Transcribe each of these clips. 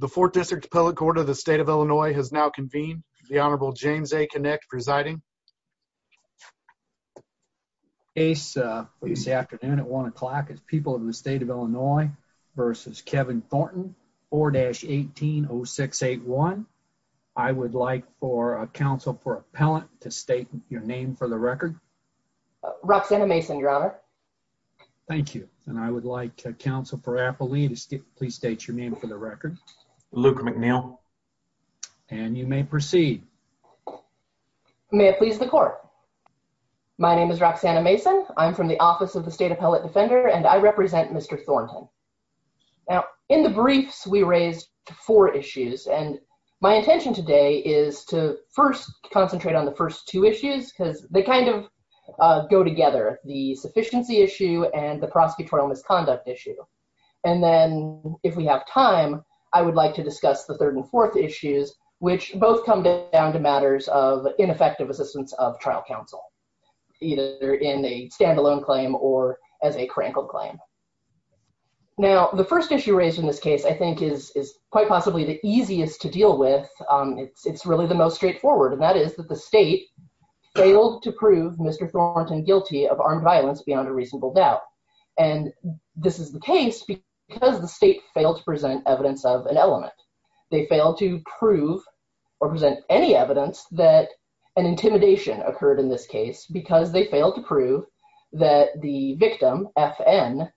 The 4th District Appellate Court of the State of Illinois has now convened. The Honorable James A. Connick presiding. Ace, this afternoon at 1 o'clock is People of the State of Illinois v. Kevin Thornton, 4-18-0681. I would like for Council for Appellant to state your name for the record. Roxanna Mason, Your Honor. Thank you. And I would like Council for Appellant to please state your name for the record. Luca McNeil. And you may proceed. May it please the Court. My name is Roxanna Mason. I'm from the Office of the State Appellate Defender and I represent Mr. Thornton. Now, in the briefs we raised four issues and my intention today is to first concentrate on the first two issues because they kind of go together, the sufficiency issue and the prosecutorial misconduct issue. And then, if we have time, I would like to discuss the third and fourth issues, which both come down to matters of ineffective assistance of trial counsel, either in a standalone claim or as a crankled claim. Now, the first issue raised in this case I think is quite possibly the easiest to deal with. It's really the most straightforward, and that is that the State failed to prove Mr. Thornton guilty of armed violence beyond a reasonable doubt. And this is the case because the State failed to present evidence of an element. They failed to prove or present any evidence that an intimidation occurred in this case because they failed to prove that the victim, FN,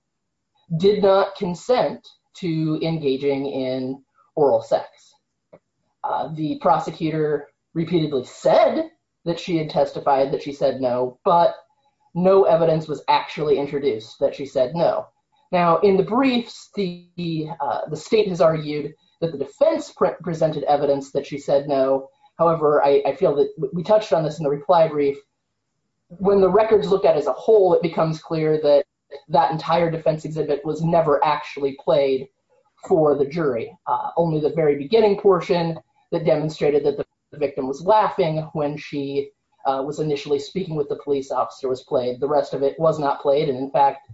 did not consent to engaging in oral sex. The prosecutor repeatedly said that she had testified, that she said no, but no evidence was actually introduced that she said no. Now, in the briefs, the State has argued that the defense presented evidence that she said no. However, I feel that we touched on this in the reply brief. When the records look at as a whole, it becomes clear that that entire defense exhibit was never actually played for the jury. Only the very beginning portion that demonstrated that the victim was laughing when she was initially speaking with the police officer was played. The rest of it was not played, and in fact,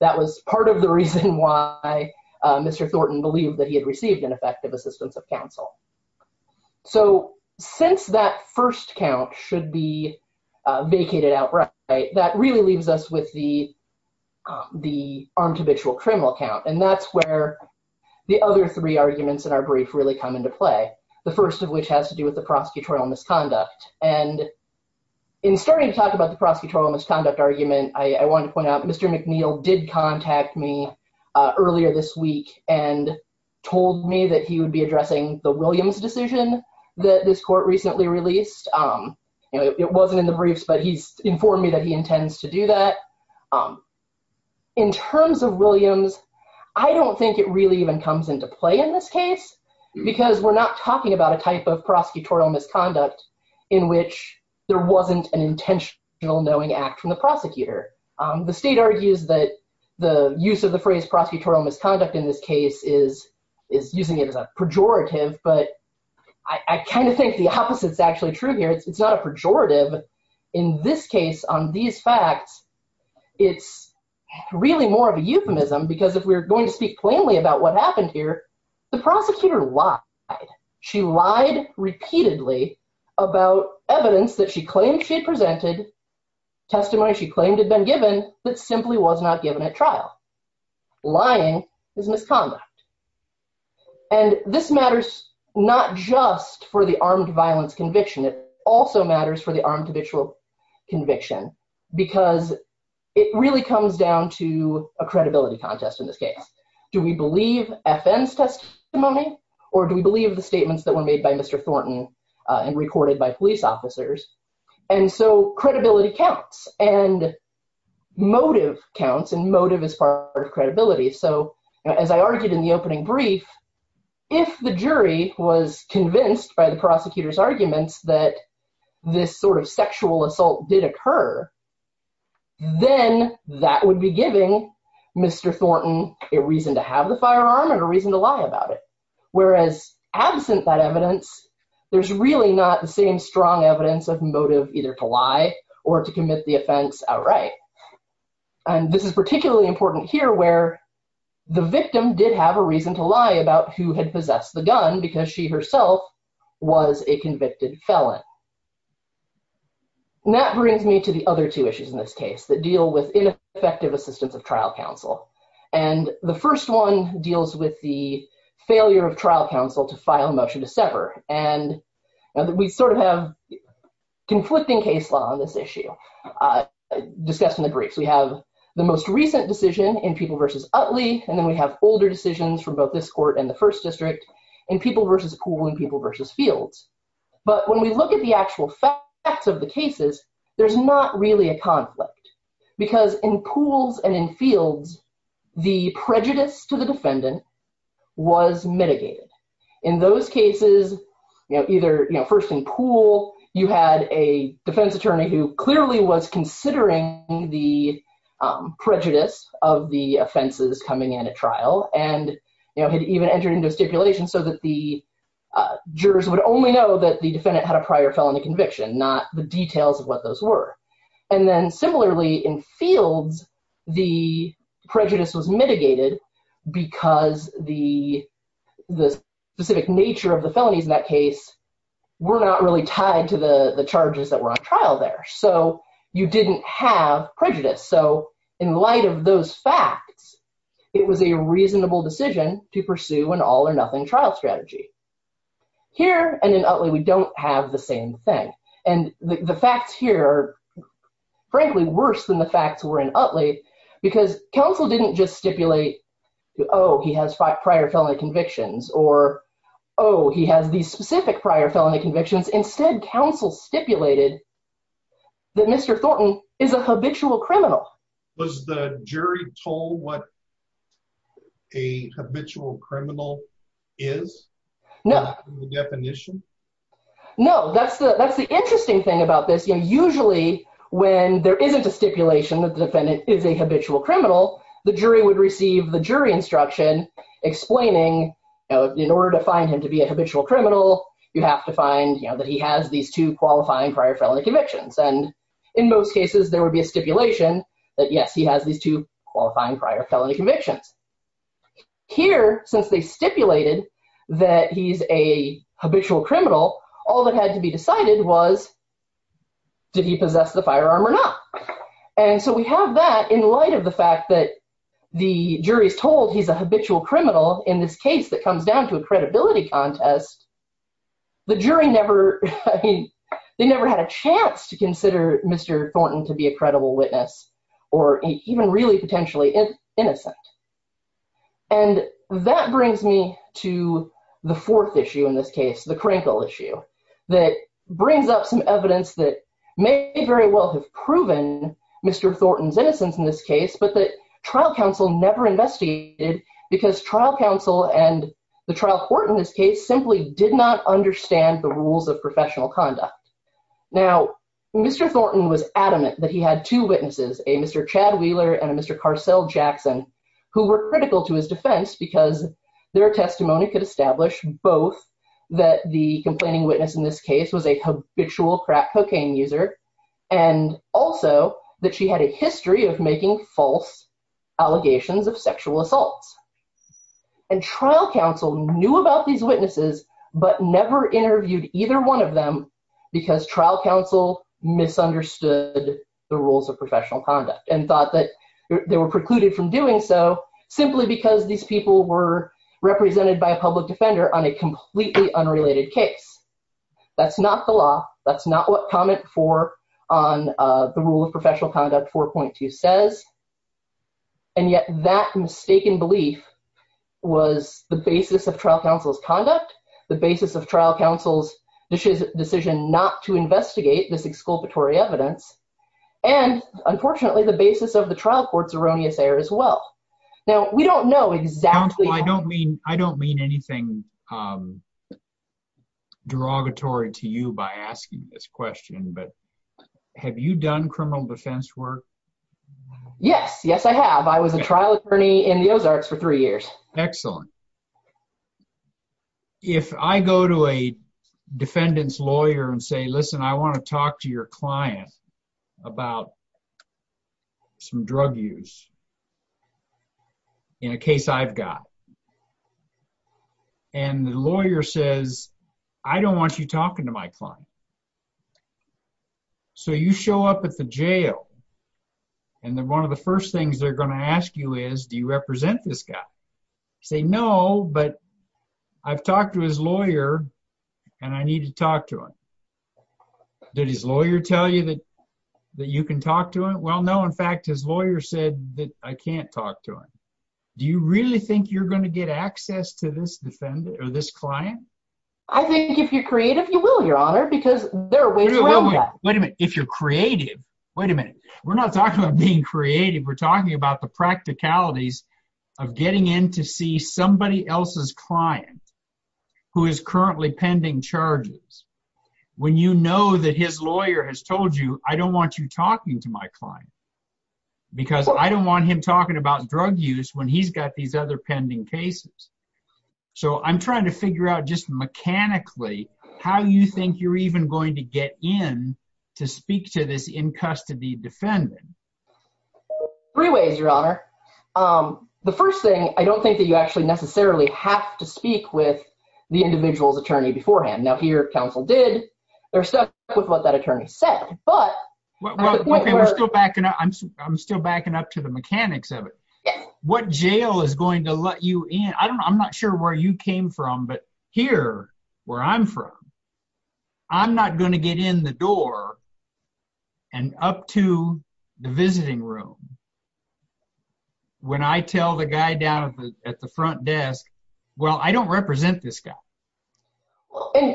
that was part of the reason why Mr. Thornton believed that he had received an effective assistance of counsel. So, since that first count should be vacated outright, that really leaves us with the armed habitual criminal count. And that's where the other three arguments in our brief really come into play. The first of which has to do with the prosecutorial misconduct. And in starting to talk about the prosecutorial misconduct argument, I want to point out, Mr. McNeil did contact me earlier this week and told me that he would be addressing the Williams decision that this court recently released. It wasn't in the briefs, but he's informed me that he intends to do that. In terms of Williams, I don't think it really even comes into play in this case, because we're not talking about a type of prosecutorial misconduct in which there wasn't an intentional knowing act from the prosecutor. The state argues that the use of the phrase prosecutorial misconduct in this case is using it as a pejorative, but I kind of think the opposite is actually true here. It's not a pejorative. In this case, on these facts, it's really more of a euphemism, because if we're going to speak plainly about what happened here, the prosecutor lied. She lied repeatedly about evidence that she claimed she had presented, testimony she claimed had been given, that simply was not given at trial. Lying is misconduct. And this matters not just for the armed violence conviction. It also matters for the armed habitual conviction, because it really comes down to a credibility contest in this case. Do we believe FN's testimony, or do we believe the statements that were made by Mr. Thornton and recorded by police officers? And so credibility counts, and motive counts, and motive is part of credibility. So as I argued in the opening brief, if the jury was convinced by the prosecutor's arguments that this sort of sexual assault did occur, then that would be giving Mr. Thornton a reason to have the firearm and a reason to lie about it. Whereas absent that evidence, there's really not the same strong evidence of motive either to lie or to commit the offense outright. And this is particularly important here, where the victim did have a reason to lie about who had possessed the gun, because she herself was a convicted felon. And that brings me to the other two issues in this case that deal with ineffective assistance of trial counsel. And the first one deals with the failure of trial counsel to file a motion to sever. And we sort of have conflicting case law on this issue. Discussed in the briefs, we have the most recent decision in People v. Utley, and then we have older decisions from both this court and the First District in People v. Pool and People v. Fields. But when we look at the actual facts of the cases, there's not really a conflict, because in Pools and in Fields, the prejudice to the defendant was mitigated. In those cases, either first in Pool, you had a defense attorney who clearly was considering the prejudice of the offenses coming into trial and had even entered into a stipulation so that the jurors would only know that the defendant had a prior felony conviction, not the details of what those were. And then similarly in Fields, the prejudice was mitigated because the specific nature of the felonies in that case were not really tied to the charges that were on trial there. So you didn't have prejudice. So in light of those facts, it was a reasonable decision to pursue an all-or-nothing trial strategy. Here and in Utley, we don't have the same thing. And the facts here are frankly worse than the facts were in Utley, because counsel didn't just stipulate, oh, he has prior felony convictions, or, oh, he has these specific prior felony convictions. Instead, counsel stipulated that Mr. Thornton is a habitual criminal. Was the jury told what a habitual criminal is? No. In the definition? No. That's the interesting thing about this. Usually when there isn't a stipulation that the defendant is a habitual criminal, the jury would receive the jury instruction explaining in order to find him to be a habitual criminal, you have to find that he has these two qualifying prior felony convictions. And in most cases, there would be a stipulation that, yes, he has these two qualifying prior felony convictions. Here, since they stipulated that he's a habitual criminal, all that had to be decided was did he possess the firearm or not. And so we have that in light of the fact that the jury is told he's a habitual criminal. In this case that comes down to a credibility contest, the jury never had a chance to consider Mr. Thornton to be a credible witness or even really potentially innocent. And that brings me to the fourth issue in this case, the Krinkle issue, that brings up some evidence that may very well have proven Mr. Thornton's innocence in this case, but the trial counsel never investigated because trial counsel and the trial court in this case simply did not understand the rules of professional conduct. Now, Mr. Thornton was adamant that he had two witnesses, a Mr. Chad Wheeler and a Mr. Carcel Jackson, who were critical to his defense because their testimony could establish both that the complaining witness in this case was a habitual crack cocaine user and also that she had a history of making false allegations of sexual assaults. And trial counsel knew about these witnesses but never interviewed either one of them because trial counsel misunderstood the rules of professional conduct and thought that they were precluded from doing so simply because these people were represented by a public defender on a completely unrelated case. That's not the law. That's not what comment four on the rule of professional conduct 4.2 says. And yet that mistaken belief was the basis of trial counsel's conduct, the basis of trial counsel's decision not to investigate this exculpatory evidence, and unfortunately, the basis of the trial court's erroneous error as well. Now, we don't know exactly... I don't mean anything derogatory to you by asking this question, but have you done criminal defense work? Yes. Yes, I have. I was a trial attorney in the Ozarks for three years. Excellent. If I go to a defendant's lawyer and say, listen, I want to talk to your client about some drug use in a case I've got, and the lawyer says, I don't want you talking to my client. So you show up at the jail, and one of the first things they're going to ask you is, do you represent this guy? Say, no, but I've talked to his lawyer, and I need to talk to him. Did his lawyer tell you that you can talk to him? Well, no. In fact, his lawyer said that I can't talk to him. Do you really think you're going to get access to this client? I think if you're creative, you will, Your Honor, because there are ways around that. Wait a minute. If you're creative? Wait a minute. We're not talking about being creative. We're talking about the practicalities of getting in to see somebody else's client who is currently pending charges. When you know that his lawyer has told you, I don't want you talking to my client because I don't want him talking about drug use when he's got these other pending cases. So I'm trying to figure out just mechanically how you think you're even going to get in to speak to this in-custody defendant. Three ways, Your Honor. The first thing, I don't think that you actually necessarily have to speak with the individual's attorney beforehand. Now, here, counsel did. They're stuck with what that attorney said. I'm still backing up to the mechanics of it. What jail is going to let you in? I'm not sure where you came from, but here, where I'm from, I'm not going to get in the door and up to the visiting room when I tell the guy down at the front desk, well, I don't represent this guy.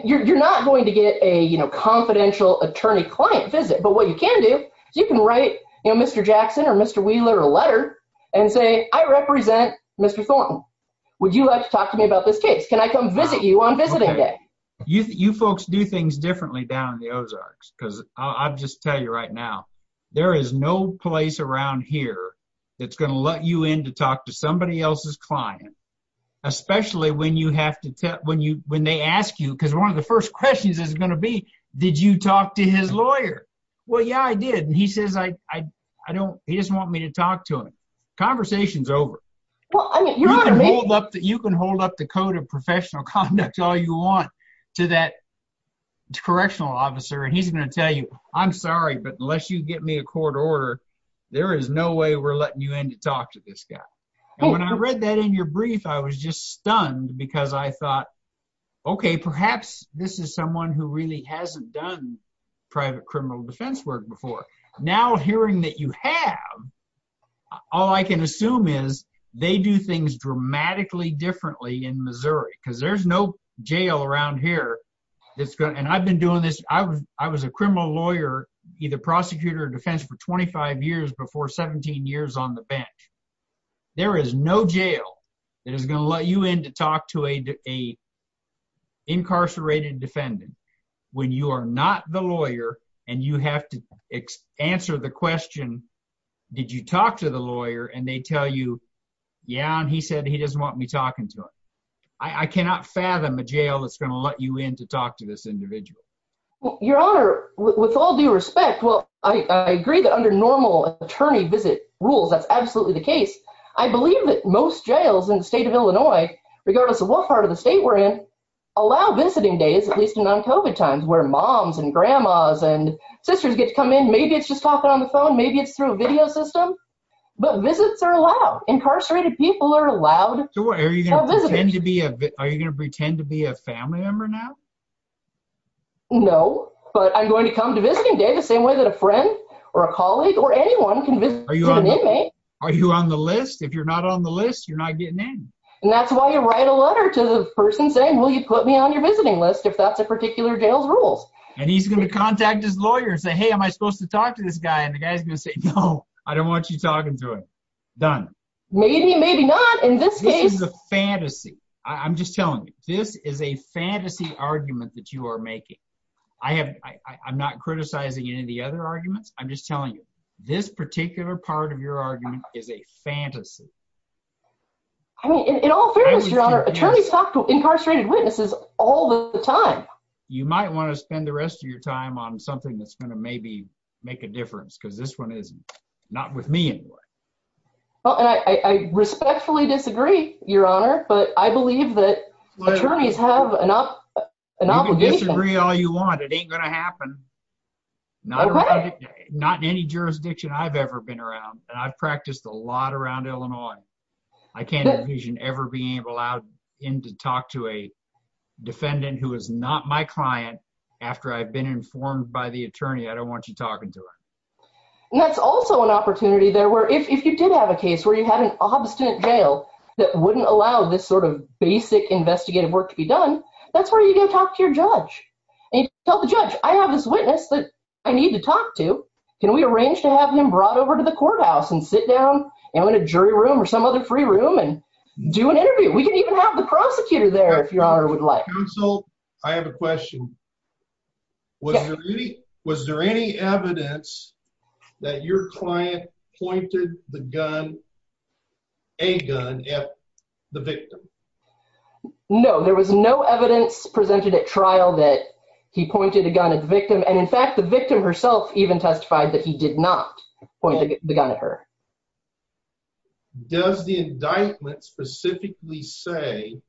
You're not going to get a confidential attorney-client visit, but what you can do is you can write Mr. Jackson or Mr. Wheeler a letter and say, I represent Mr. Thornton. Would you like to talk to me about this case? Can I come visit you on visiting day? You folks do things differently down in the Ozarks, because I'll just tell you right now, there is no place around here that's going to let you in to talk to somebody else's client, especially when they ask you, because one of the first questions is going to be, did you talk to his lawyer? Well, yeah, I did, and he says he doesn't want me to talk to him. Conversation's over. You can hold up the code of professional conduct all you want to that correctional officer, and he's going to tell you, I'm sorry, but unless you get me a court order, there is no way we're letting you in to talk to this guy. And when I read that in your brief, I was just stunned, because I thought, okay, perhaps this is someone who really hasn't done private criminal defense work before. Now hearing that you have, all I can assume is they do things dramatically differently in Missouri, because there's no jail around here. And I've been doing this. I was a criminal lawyer, either prosecutor or defense, for 25 years before 17 years on the bench. There is no jail that is going to let you in to talk to an incarcerated defendant when you are not the lawyer and you have to answer the question, did you talk to the lawyer? And they tell you, yeah, and he said he doesn't want me talking to him. I cannot fathom a jail that's going to let you in to talk to this individual. Your Honor, with all due respect, well, I agree that under normal attorney visit rules, that's absolutely the case. I believe that most jails in the state of Illinois, regardless of what part of the state we're in, allow visiting days, at least in non-COVID times, where moms and grandmas and sisters get to come in. Maybe it's just talking on the phone. Maybe it's through a video system. But visits are allowed. Incarcerated people are allowed to visit. Are you going to pretend to be a family member now? No. But I'm going to come to visiting day the same way that a friend or a colleague or anyone can visit an inmate. Are you on the list? If you're not on the list, you're not getting in. And that's why you write a letter to the person saying, will you put me on your visiting list if that's a particular jail's rules? And he's going to contact his lawyer and say, hey, am I supposed to talk to this guy? And the guy's going to say, no, I don't want you talking to him. Done. Maybe, maybe not. Fantasy. I'm just telling you, this is a fantasy argument that you are making. I have, I'm not criticizing any of the other arguments. I'm just telling you this particular part of your argument is a fantasy. I mean, in all fairness, your Honor, attorneys talk to incarcerated witnesses all the time. You might want to spend the rest of your time on something that's going to maybe make a difference because this one is not with me. Well, and I, I respectfully disagree your Honor, but I believe that attorneys have enough. Disagree all you want. It ain't going to happen. Not in any jurisdiction I've ever been around and I've practiced a lot around Illinois. I can't envision ever being able to allow him to talk to a defendant who is not my client. After I've been informed by the attorney, I don't want you talking to him. And that's also an opportunity there where if, if you did have a case where you had an obstinate jail that wouldn't allow this sort of basic investigative work to be done, that's where are you going to talk to your judge and tell the judge, I have this witness that I need to talk to. Can we arrange to have him brought over to the courthouse and sit down and in a jury room or some other free room and do an interview? We can even have the prosecutor there if your Honor would like. Counsel, I have a question. Was there any, was there any evidence that your client pointed the gun, a gun at the victim? No, there was no evidence presented at trial that he pointed a gun at the victim. And in fact, the victim herself even testified that he did not point the gun at her. Does the indictment specifically say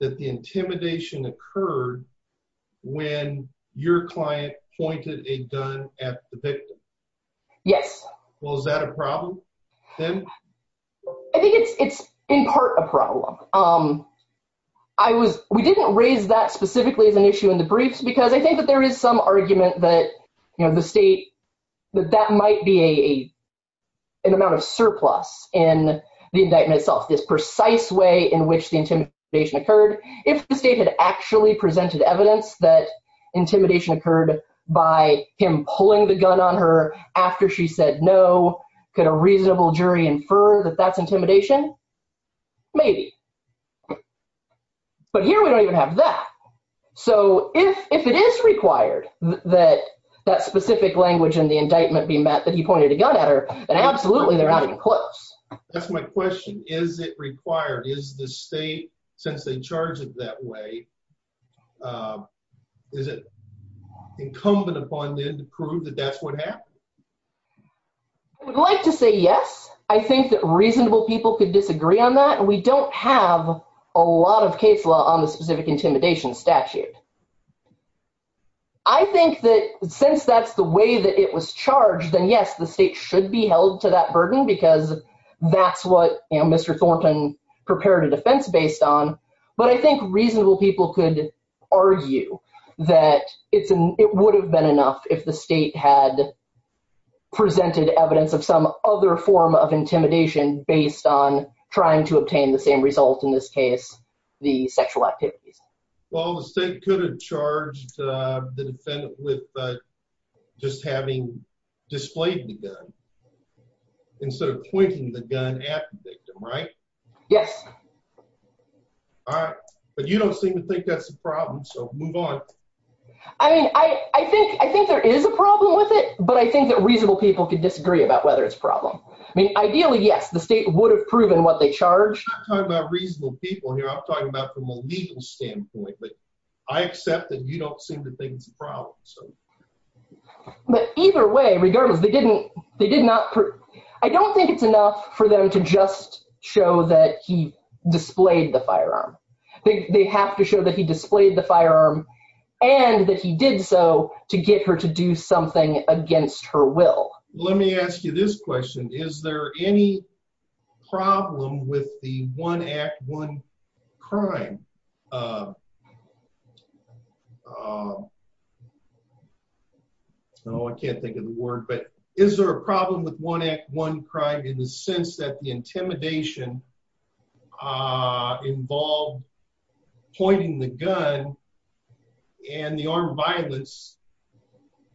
that the intimidation occurred when your client pointed a gun at the victim? Yes. Well, is that a problem then? I think it's, it's in part a problem. Um, I was, we didn't raise that specifically as an issue in the briefs because I think that there is some argument that, you know, the state, that that might be a, an amount of surplus in the indictment itself, this precise way in which the intimidation occurred. If the state had actually presented evidence that intimidation occurred by him pulling the gun on her after she said no, could a reasonable jury infer that that's intimidation? Maybe. But here we don't even have that. So if, if it is required that that specific language in the indictment be met, that he pointed a gun at her, then absolutely they're not even close. That's my question. Is it required? Is the state, since they charge it that way, is it incumbent upon them to prove that that's what happened? I would like to say yes. I think that reasonable people could disagree on that and we don't have a lot of case law on the specific intimidation statute. I think that since that's the way that it was charged, then yes, the state should be held to that burden because that's what, you know, Mr. Thornton prepared a defense based on, but I think reasonable people could argue that it's an, it would have been enough if the state had presented evidence of some other form of intimidation based on trying to obtain the same result in this case, the sexual activities. Well, the state could have charged the defendant with just having displayed the gun instead of pointing the gun at the victim, right? Yes. All right. But you don't seem to think that's a problem. So move on. I mean, I, I think, I think there is a problem with it, but I think that reasonable people could disagree about whether it's a problem. I mean, ideally, yes, the state would have proven what they charged. I'm not talking about reasonable people here. I'm talking about from a legal standpoint, but I accept that you don't seem to think it's a problem. But either way, regardless, they didn't, they did not prove, I don't think it's enough for them to just show that he displayed the firearm. They, they have to show that he displayed the firearm and that he did so to get her to do something against her will. Let me ask you this question. Is there any problem with the one act one crime? No, I can't think of the word, but is there a problem with one act one crime in the sense that the intimidation, uh, involved pointing the gun and the armed violence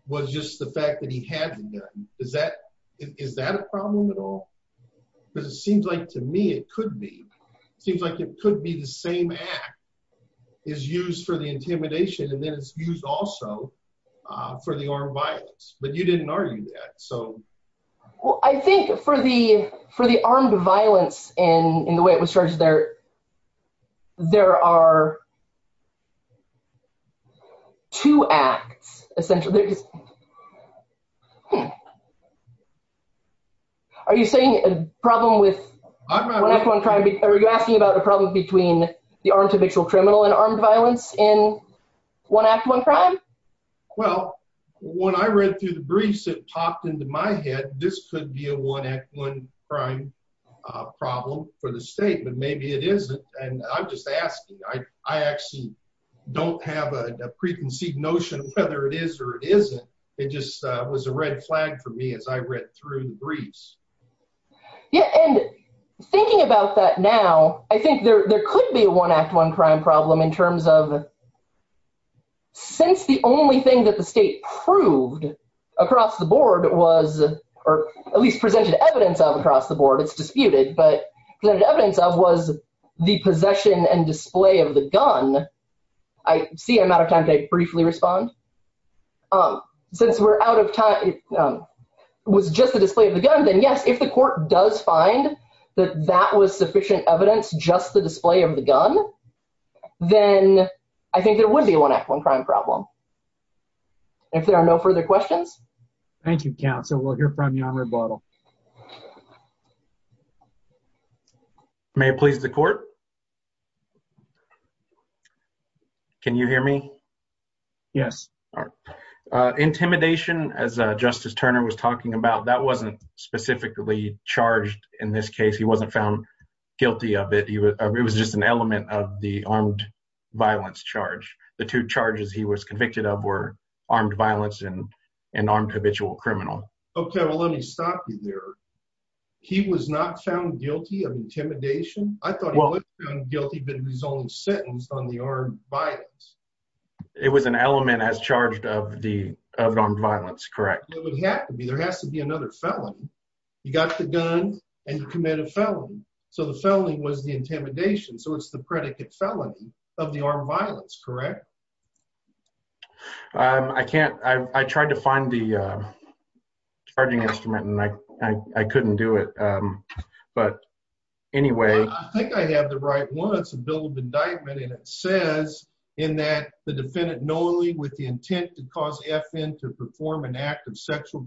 was just the fact that he had the gun. Is that, is that a problem at all? Because it seems like to me, it could be, it seems like it could be the same act is used for the intimidation. And then it's used also, uh, for the armed violence, but you didn't argue that. So. Well, I think for the, for the armed violence and in the way it was charged, there, there are two acts essentially. Are you saying a problem with one act one crime? Are you asking about a problem between the armed habitual criminal and armed violence in one act, one crime? Well, when I read through the briefs, it popped into my head. This could be a one act, one crime, uh, problem for the state, but maybe it isn't. And I'm just asking, I, I actually don't have a preconceived notion of whether it is or it isn't. It just was a red flag for me as I read through the briefs. Yeah. And thinking about that now, I think there, there could be a one act, one crime problem in terms of since the only thing that the state proved across the board was, or at least presented evidence of across the board, it's disputed, but the evidence of was the possession and display of the gun. I see I'm out of time to briefly respond. Um, since we're out of time, um, it was just the display of the gun. Then yes, if the court does find that that was sufficient evidence, just the display of the gun, then I think there would be a one act, one crime problem. If there are no further questions. Thank you, counsel. We'll hear from you on rebuttal. May it please the court. Can you hear me? Yes. Uh, intimidation as a justice Turner was talking about, that wasn't specifically charged in this case. He wasn't found guilty of it. He was, it was just an element of the armed violence charge. The two charges he was convicted of were armed violence and, and armed habitual criminal. Okay. Well, let me stop you there. He was not found guilty of intimidation. I thought he was found guilty but he was only sentenced on the armed violence. It was an element as charged of the armed violence. Correct. It would have to be, there has to be another felony. You got the gun and you commit a felony. So the felony was the intimidation. So it's the predicate felony of the armed violence. Correct. Um, I can't, I tried to find the, uh, Charging instrument and I, I couldn't do it. Um, but anyway, I think I have the right one. It's a bill of indictment and it says in that the defendant normally with the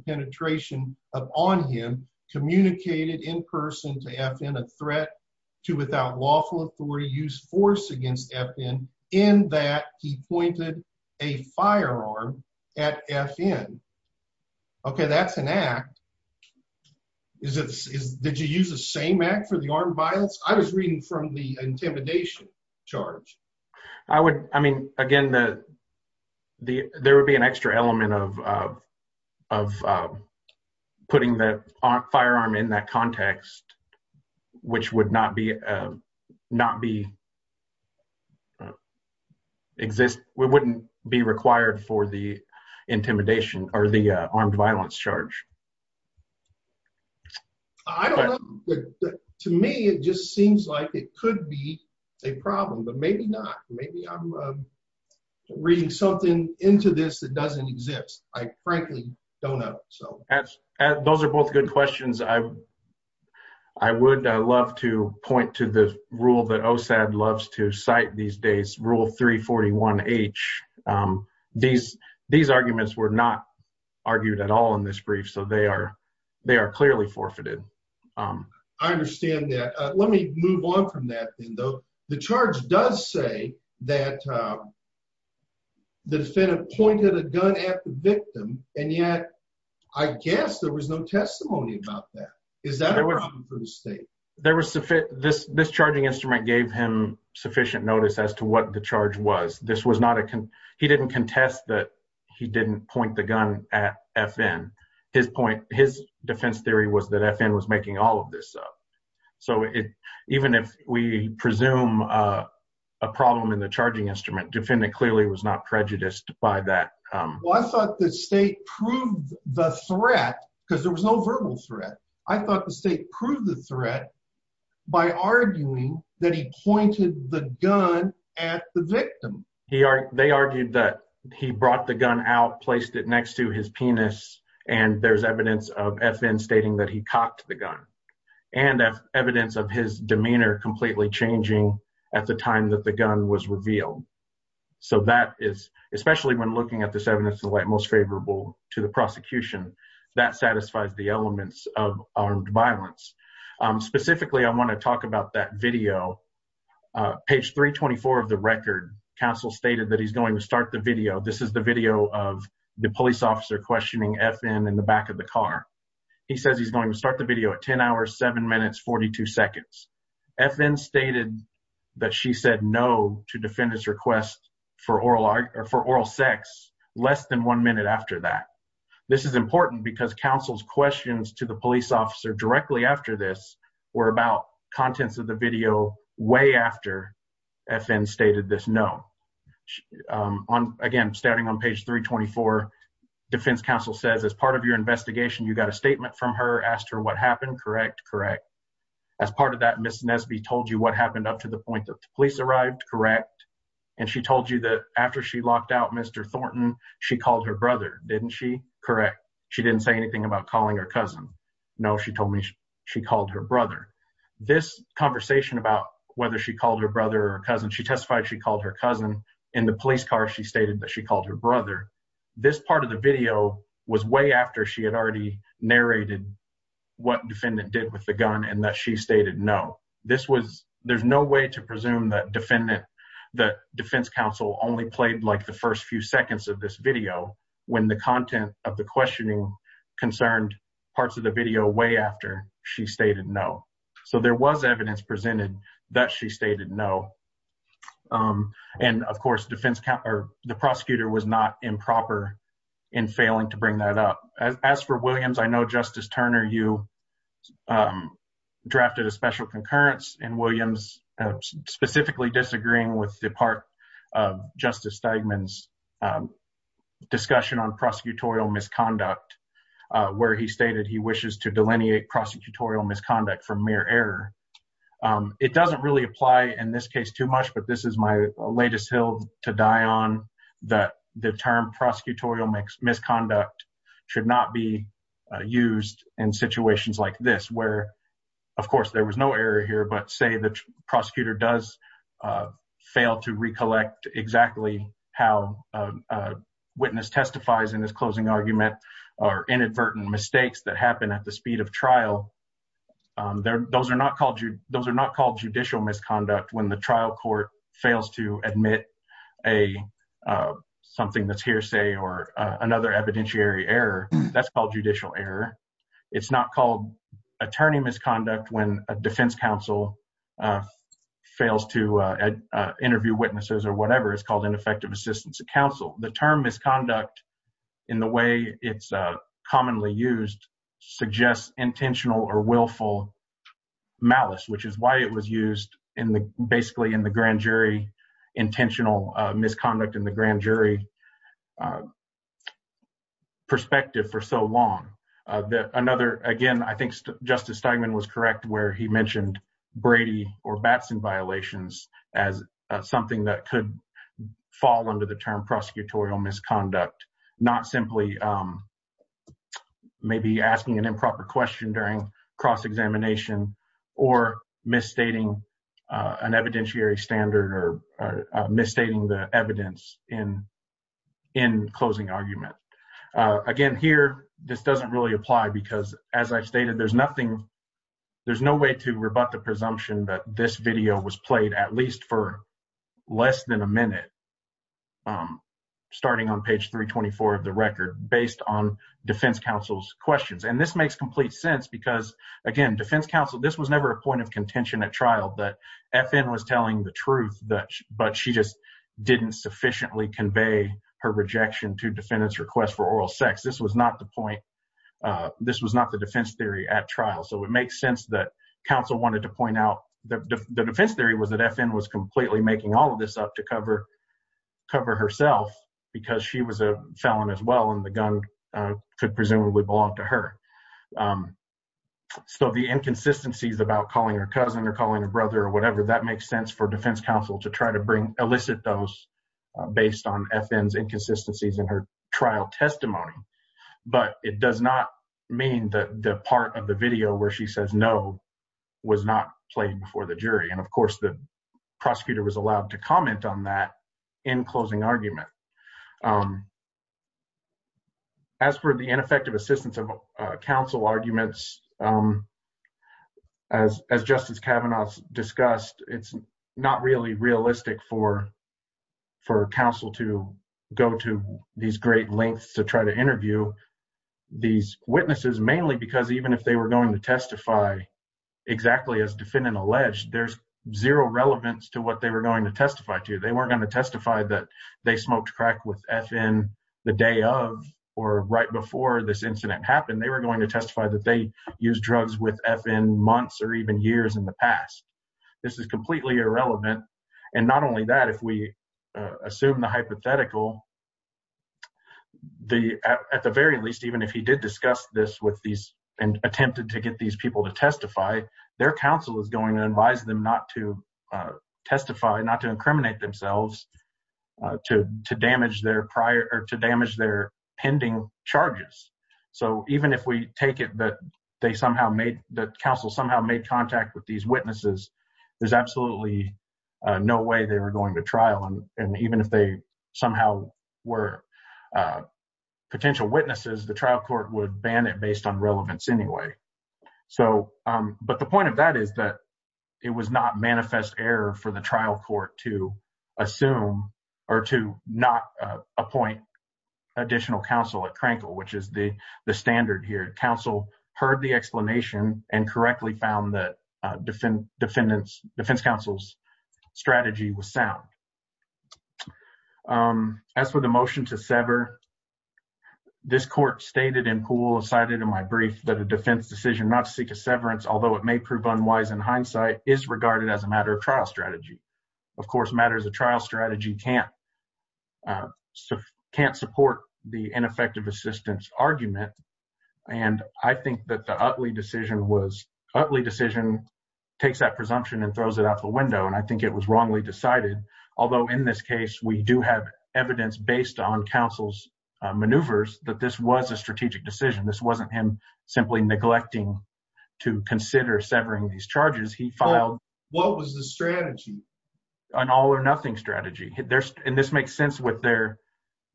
gun on him communicated in person to FN a threat to without lawful authority use force against FN in that he pointed a firearm at FN. Okay. That's an act. Is it, is, did you use the same act for the armed violence? I was reading from the intimidation charge. I would, I mean, again, the, the, there would be an extra element of, uh, of, uh, putting the firearm in that context, which would not be, uh, not be exist. We wouldn't be required for the intimidation or the, uh, armed violence charge. To me, it just seems like it could be a problem, but maybe not. Maybe I'm reading something into this that doesn't exist. I frankly don't know. So those are both good questions. I've, I would love to point to the rule that OSAD loves to cite these days. Rule three 41 H. Um, these, these arguments were not argued at all in this brief. So they are, they are clearly forfeited. Um, I understand that. Let me move on from that then though. The charge does say that, um, the defendant pointed a gun at the victim. And yet I guess there was no testimony about that. Is that a problem for the state? There was sufficient, this, this charging instrument gave him sufficient notice as to what the charge was. This was not a con he didn't contest that he didn't point the gun at FN. His point, his defense theory was that FN was making all of this up. So it, even if we presume, uh, a problem in the charging instrument, the defendant clearly was not prejudiced by that. Um, I thought the state proved the threat because there was no verbal threat. I thought the state proved the threat by arguing that he pointed the gun at the victim. He, they argued that he brought the gun out, placed it next to his penis. And there's evidence of FN stating that he cocked the gun and evidence of his argument. So that is, especially when looking at this evidence of the light most favorable to the prosecution that satisfies the elements of armed violence. Um, specifically, I want to talk about that video, uh, page three 24 of the record. Counsel stated that he's going to start the video. This is the video of the police officer questioning FN in the back of the car. He says, he's going to start the video at 10 hours, seven minutes, 42 seconds. FN stated that she said no to defend his request for oral art or for oral sex less than one minute after that. This is important because counsel's questions to the police officer directly after this were about contents of the video way after FN stated this. No. Um, on again, starting on page three 24 defense counsel says as part of your investigation, you got a statement from her asked her what happened. Correct. Correct. As part of that Miss Nesby told you what happened up to the point that the police arrived. Correct. And she told you that after she locked out, Mr. Thornton, she called her brother. Didn't she? Correct. She didn't say anything about calling her cousin. No, she told me she called her brother. This conversation about whether she called her brother or cousin, she testified, she called her cousin in the police car. She stated that she called her brother. This part of the video was way after she had already narrated what defendant did with the gun. And that she stated, no, this was, there's no way to presume that defendant, that defense counsel only played like the first few seconds of this video when the content of the questioning concerned parts of the video way after she stated no. So there was evidence presented that she stated no. Um, and of course, defense count, or the prosecutor was not improper in failing to bring that up. As, as for Williams, I know justice Turner, you, um, drafted a special concurrence and Williams specifically disagreeing with the part of justice Steigman's, um, discussion on prosecutorial misconduct, uh, where he stated he wishes to delineate prosecutorial misconduct from mere error. Um, it doesn't really apply in this case too much, but this is my latest hill to die on that. The term prosecutorial mix misconduct should not be, uh, used in situations like this, where of course there was no error here, but say the prosecutor does, uh, fail to recollect exactly how a witness testifies in this closing argument or inadvertent mistakes that happen at the speed of trial. Um, there, those are not called you. Those are not called judicial misconduct when the trial court fails to admit a, uh, something that's hearsay or, uh, another evidentiary error. That's called judicial error. It's not called attorney misconduct when a defense counsel, uh, fails to, uh, uh, interview witnesses or whatever. It's called ineffective assistance to counsel. The term is conduct in the way. It's a commonly used suggests intentional or willful malice, which is why it was used in the, basically in the grand jury, the intentional misconduct in the grand jury, uh, perspective for so long, uh, that another, again, I think Justice Steinman was correct where he mentioned Brady or Batson violations as something that could fall under the term prosecutorial misconduct, not simply, um, maybe asking an improper question during cross-examination or misstating, uh, an evidentiary standard or, uh, misstating the evidence in, in closing argument. Uh, again here, this doesn't really apply because as I stated, there's nothing, there's no way to rebut the presumption that this video was played at least for less than a minute. Um, starting on page three 24 of the record based on defense counsel's questions. And this makes complete sense because again, defense counsel, this was never a point of contention at trial that FN was telling the truth that, but she just didn't sufficiently convey her rejection to defendants request for oral sex. This was not the point. Uh, this was not the defense theory at trial. So it makes sense that counsel wanted to point out the defense theory was that FN was completely making all of this up to cover, cover herself, because she was a felon as well. And the gun, uh, could presumably belong to her. Um, so the inconsistencies about calling her cousin or calling her brother or whatever, that makes sense for defense counsel to try to bring, elicit those based on FN's inconsistencies in her trial testimony. But it does not mean that the part of the video where she says no was not played before the jury. And of course, the prosecutor was allowed to comment on that in closing argument. Um, as for the ineffective assistance of, uh, counsel arguments, um, as, as justice Kavanaugh's discussed, it's not really realistic for, for counsel to go to these great lengths to try to interview these witnesses mainly because even if they were going to testify exactly as defendant alleged, there's zero relevance to what they were going to testify to. They weren't going to testify that they smoked crack with FN the day of, or right before this incident happened, they were going to testify that they use drugs with FN months or even years in the past. This is completely irrelevant. And not only that, if we assume the hypothetical, the, at, at the very least, even if he did discuss this with these and attempted to get these people to testify, their counsel is going to advise them not to testify, not to incriminate themselves, uh, to, to damage their prior, or to damage their pending charges. So even if we take it that they somehow made that counsel somehow made contact with these witnesses, there's absolutely no way they were going to trial. And even if they somehow were, uh, potential witnesses, the trial court would ban it based on relevance anyway. So, um, but the point of that is that it was not manifest error for the trial court to assume or to not appoint additional counsel at Crankle, which is the standard here. Counsel heard the explanation and correctly found that, uh, defend, defendants defense counsel's strategy was sound. Um, as for the motion to sever, this court stated in pool, cited in my brief that a defense decision not to seek a severance, although it may prove unwise in hindsight is regarded as a matter of trial strategy. Of course, matters of trial strategy can't, uh, can't support the ineffective assistance argument. And I think that the Utley decision was Utley decision takes that presumption and throws it out the window. And I think it was wrongly decided. Although in this case, it was a strategic decision. This wasn't him simply neglecting to consider severing these charges. He filed. What was the strategy? An all or nothing strategy. There's, and this makes sense with their,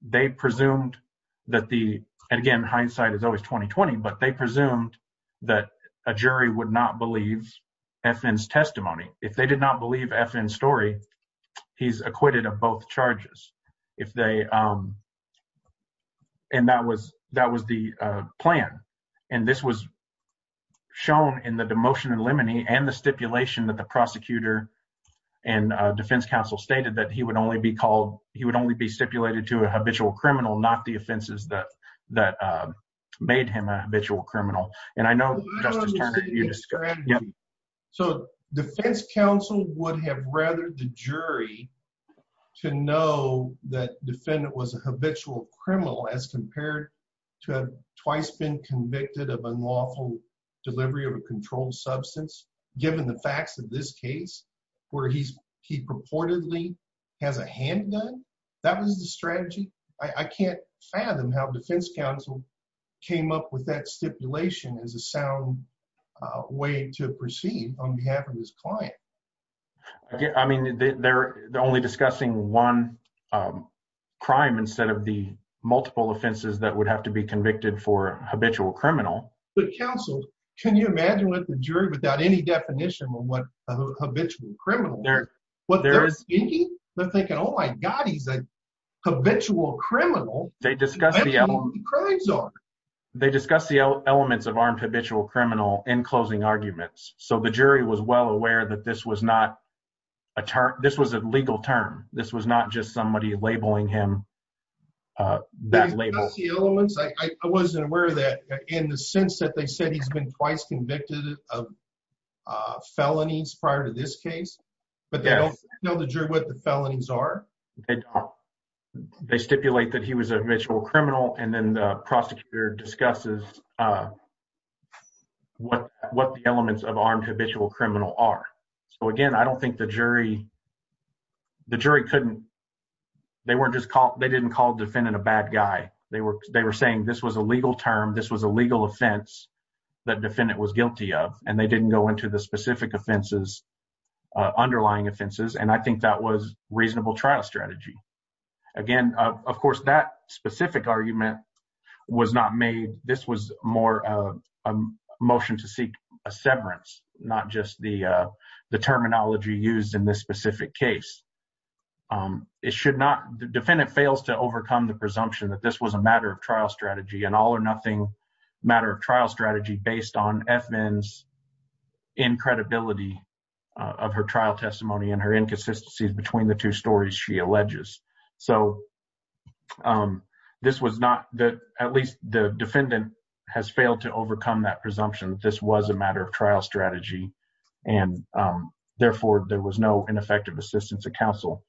they presumed that the, and again, hindsight is always 2020, but they presumed that a jury would not believe FN's testimony. If they did not believe FN story, he's acquitted of both charges. If they, um, and that was, that was the, uh, plan. And this was shown in the demotion and lemony and the stipulation that the prosecutor and a defense counsel stated that he would only be called, he would only be stipulated to a habitual criminal, not the offenses that, that, uh, made him a habitual criminal. And I know. So defense counsel would have rather the jury to know that defendant was a habitual criminal as compared to twice been convicted of unlawful delivery of a controlled substance, given the facts of this case where he's he purportedly has a handgun. That was the strategy. I can't fathom how defense counsel came up with that stipulation as a sound way to proceed on behalf of his client. I mean, they're only discussing one, um, crime instead of the multiple offenses that would have to be convicted for habitual criminal. But counsel, can you imagine what the jury without any definition of what a habitual criminal, what they're thinking? They're thinking, Oh my God, he's a habitual criminal. They discuss the elements of armed habitual criminal in closing arguments. So the jury was well aware that this was not a chart. This was a legal term. This was not just somebody labeling him, uh, that label. I wasn't aware of that in the sense that they said he's been twice convicted of, uh, felonies prior to this case, but they don't know the jury what the felonies are. They stipulate that he was a habitual criminal. And then the prosecutor discusses, uh, what, what the elements of armed habitual criminal are. So again, I don't think the jury, the jury couldn't, they weren't just called, they didn't call defendant a bad guy. They were, they were saying this was a legal term. This was a legal offense that defendant was guilty of, and they didn't go into the specific offenses, uh, underlying offenses. And I think that was reasonable trial strategy. Again, uh, of course that specific argument was not made. This was more of a motion to seek a severance, not just the, uh, the terminology used in this specific case. Um, it should not, the defendant fails to overcome the presumption that this was a matter of trial strategy and all or nothing matter of trial strategy based on FNs in credibility of her trial testimony and her inconsistencies between the two stories she alleges. So, um, this was not the, at least the defendant has failed to overcome that presumption that this was a matter of trial strategy. And, um, therefore there was no ineffective assistance to counsel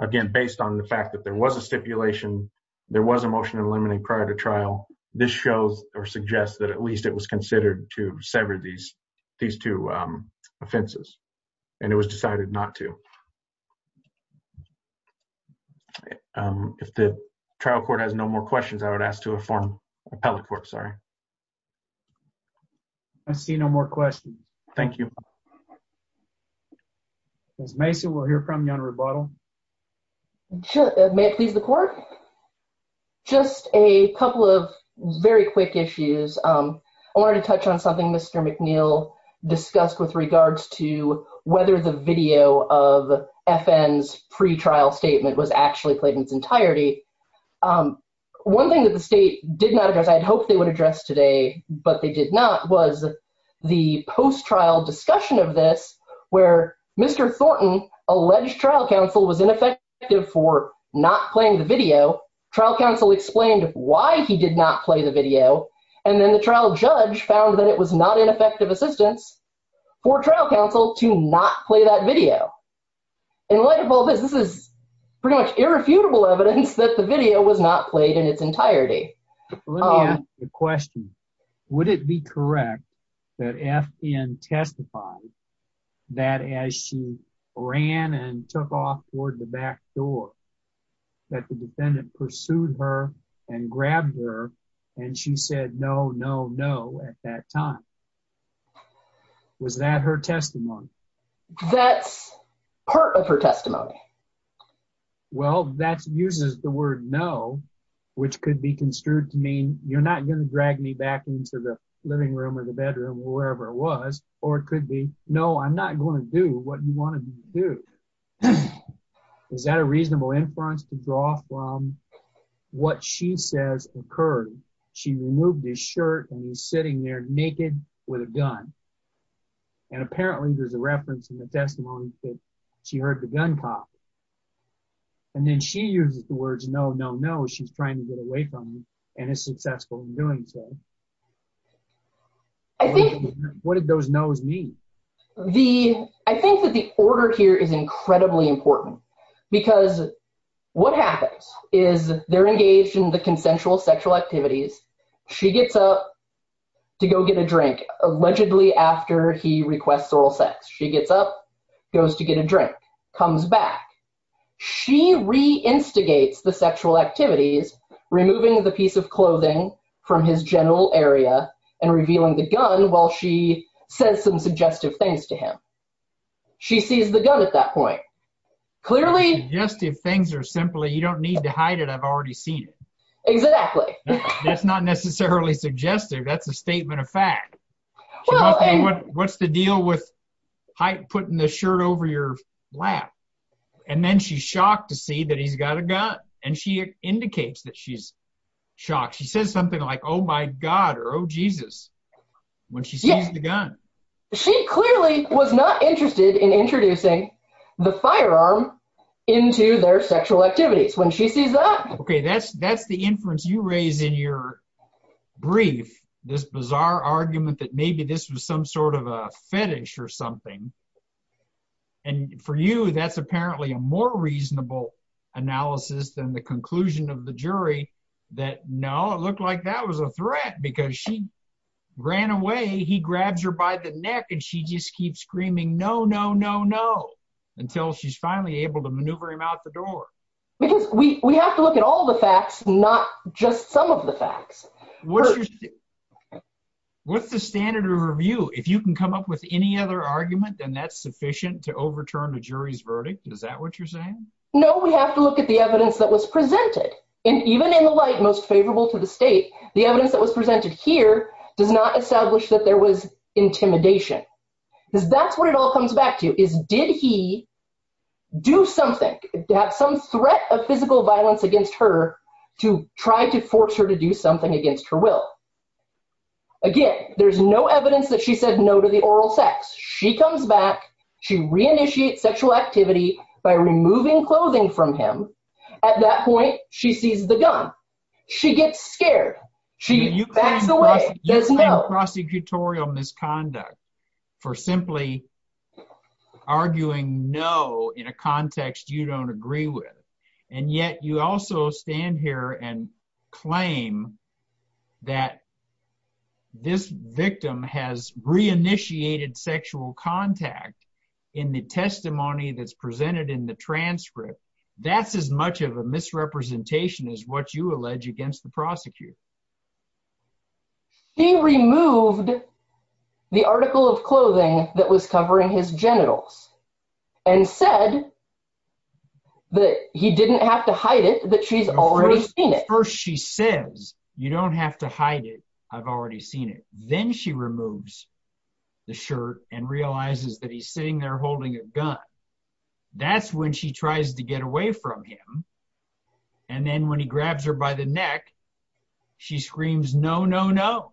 again, based on the fact that there was a stipulation, there was a motion to eliminate prior to trial. This shows or suggests that at least it was considered to sever these, these two, um, offenses and it was decided not to. Okay. Um, if the trial court has no more questions, I would ask to a form appellate court. Sorry. I see no more questions. Thank you. There's Mason. We'll hear from you on rebuttal. Sure. May it please the court. Just a couple of very quick issues. Um, I wanted to touch on something Mr. McNeil discussed with regards to whether the video of FN's pre-trial statement was actually played in its entirety. Um, one thing that the state did not address, I had hoped they would address today, but they did not, was the post-trial discussion of this where Mr. Thornton alleged trial counsel was ineffective for not playing the video. Trial counsel explained why he did not play the video. And then the trial judge found that it was not ineffective assistance for trial counsel to not play that video. And what of all this is pretty much irrefutable evidence that the video was not played in its entirety. Let me ask you a question. Would it be correct that FN testified that as she ran and took off toward the back door that the defendant pursued her and grabbed her and she said, no, no, no. At that time, was that her testimony? That's part of her testimony. Well, that's uses the word no, which could be construed to mean you're not going to drag me back into the living room or the bedroom or wherever it was, or it could be, no, I'm not going to do what you want to do. Is that a reasonable inference to draw from what she says occurred? She removed his shirt and he's sitting there naked with a gun. And apparently there's a reference in the testimony that she heard the gun cop and then she uses the words, no, no, no. She's trying to get away from me and is successful in doing so. What did those no's mean? I think that the order here is incredibly important because what happens is they're engaged in the consensual sexual activities. She gets up to go get a drink. Allegedly after he requests oral sex, she gets up, goes to get a drink, comes back. She re-instigates the sexual activities, removing the piece of clothing from his general area and revealing the gun while she says some suggestive things to him. She sees the gun at that point. Suggestive things are simply, you don't need to hide it. I've already seen it. That's not necessarily suggestive. That's a statement of fact. What's the deal with putting the shirt over your lap? And then she's shocked to see that he's got a gun. And she indicates that she's shocked. She says something like, oh my God, or oh Jesus. When she sees the gun. She clearly was not interested in introducing the firearm into their sexual activities. When she sees that. Okay. That's, that's the inference you raise in your brief. This bizarre argument that maybe this was some sort of a fetish or something. And for you, that's apparently a more reasonable analysis than the conclusion of the jury that no, it looked like that was a threat because she ran away. He grabs her by the neck and she just keeps screaming, no, no, no, no. Until she's finally able to maneuver him out the door. Because we have to look at all the facts, not just some of the facts. What's the standard of review? If you can come up with any other argument, then that's sufficient to overturn the jury's verdict. Is that what you're saying? No, we have to look at the evidence that was presented. And even in the light most favorable to the state, the evidence that was presented here does not establish that there was intimidation because that's what it all comes back to is, did he do something to have some threat of physical violence against her to try to force her to do something against her will? Again, there's no evidence that she said no to the oral sex. She comes back. She reinitiates sexual activity by removing clothing from him. At that point, she sees the gun. She gets scared. She backs away. You claim prosecutorial misconduct for simply arguing no in a context you don't agree with. And yet you also stand here and claim that this victim has reinitiated sexual contact in the testimony that's presented in the transcript. That's as much of a misrepresentation as what you allege against the prosecutor. He removed the article of clothing that was covering his genitals and said that he didn't have to hide it, that she's already seen it. First she says, you don't have to hide it. I've already seen it. Then she removes the shirt and realizes that he's sitting there holding a gun. That's when she tries to get away from him. And then when he grabs her by the neck, she screams, no, no, no.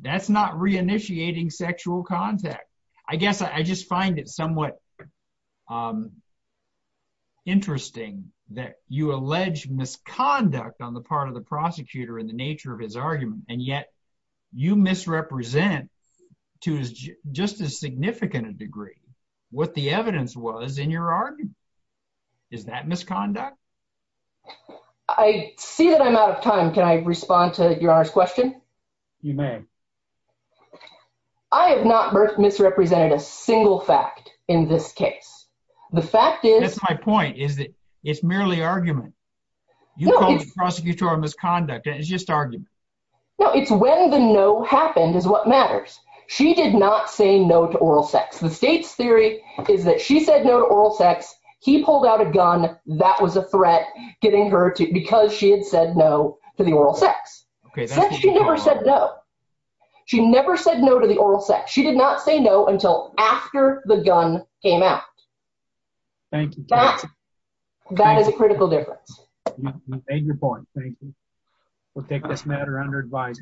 That's not reinitiating sexual contact. I guess I just find it somewhat interesting that you allege misconduct on the part of the prosecutor in the nature of his argument, and yet you misrepresent to just a significant degree what the evidence was in your argument. Is that misconduct? I see that I'm out of time. Can I respond to your Honor's question? You may. I have not misrepresented a single fact in this case. That's my point. It's merely argument. You call it prosecutorial misconduct. It's just argument. No, it's when the no happened is what matters. She did not say no to oral sex. The State's theory is that she said no to oral sex. He pulled out a gun. That was a threat, because she had said no to the oral sex. She never said no. She never said no to the oral sex. She did not say no until after the gun came out. Thank you. That is a critical difference. You've made your point. Thank you. We'll take this matter under advice.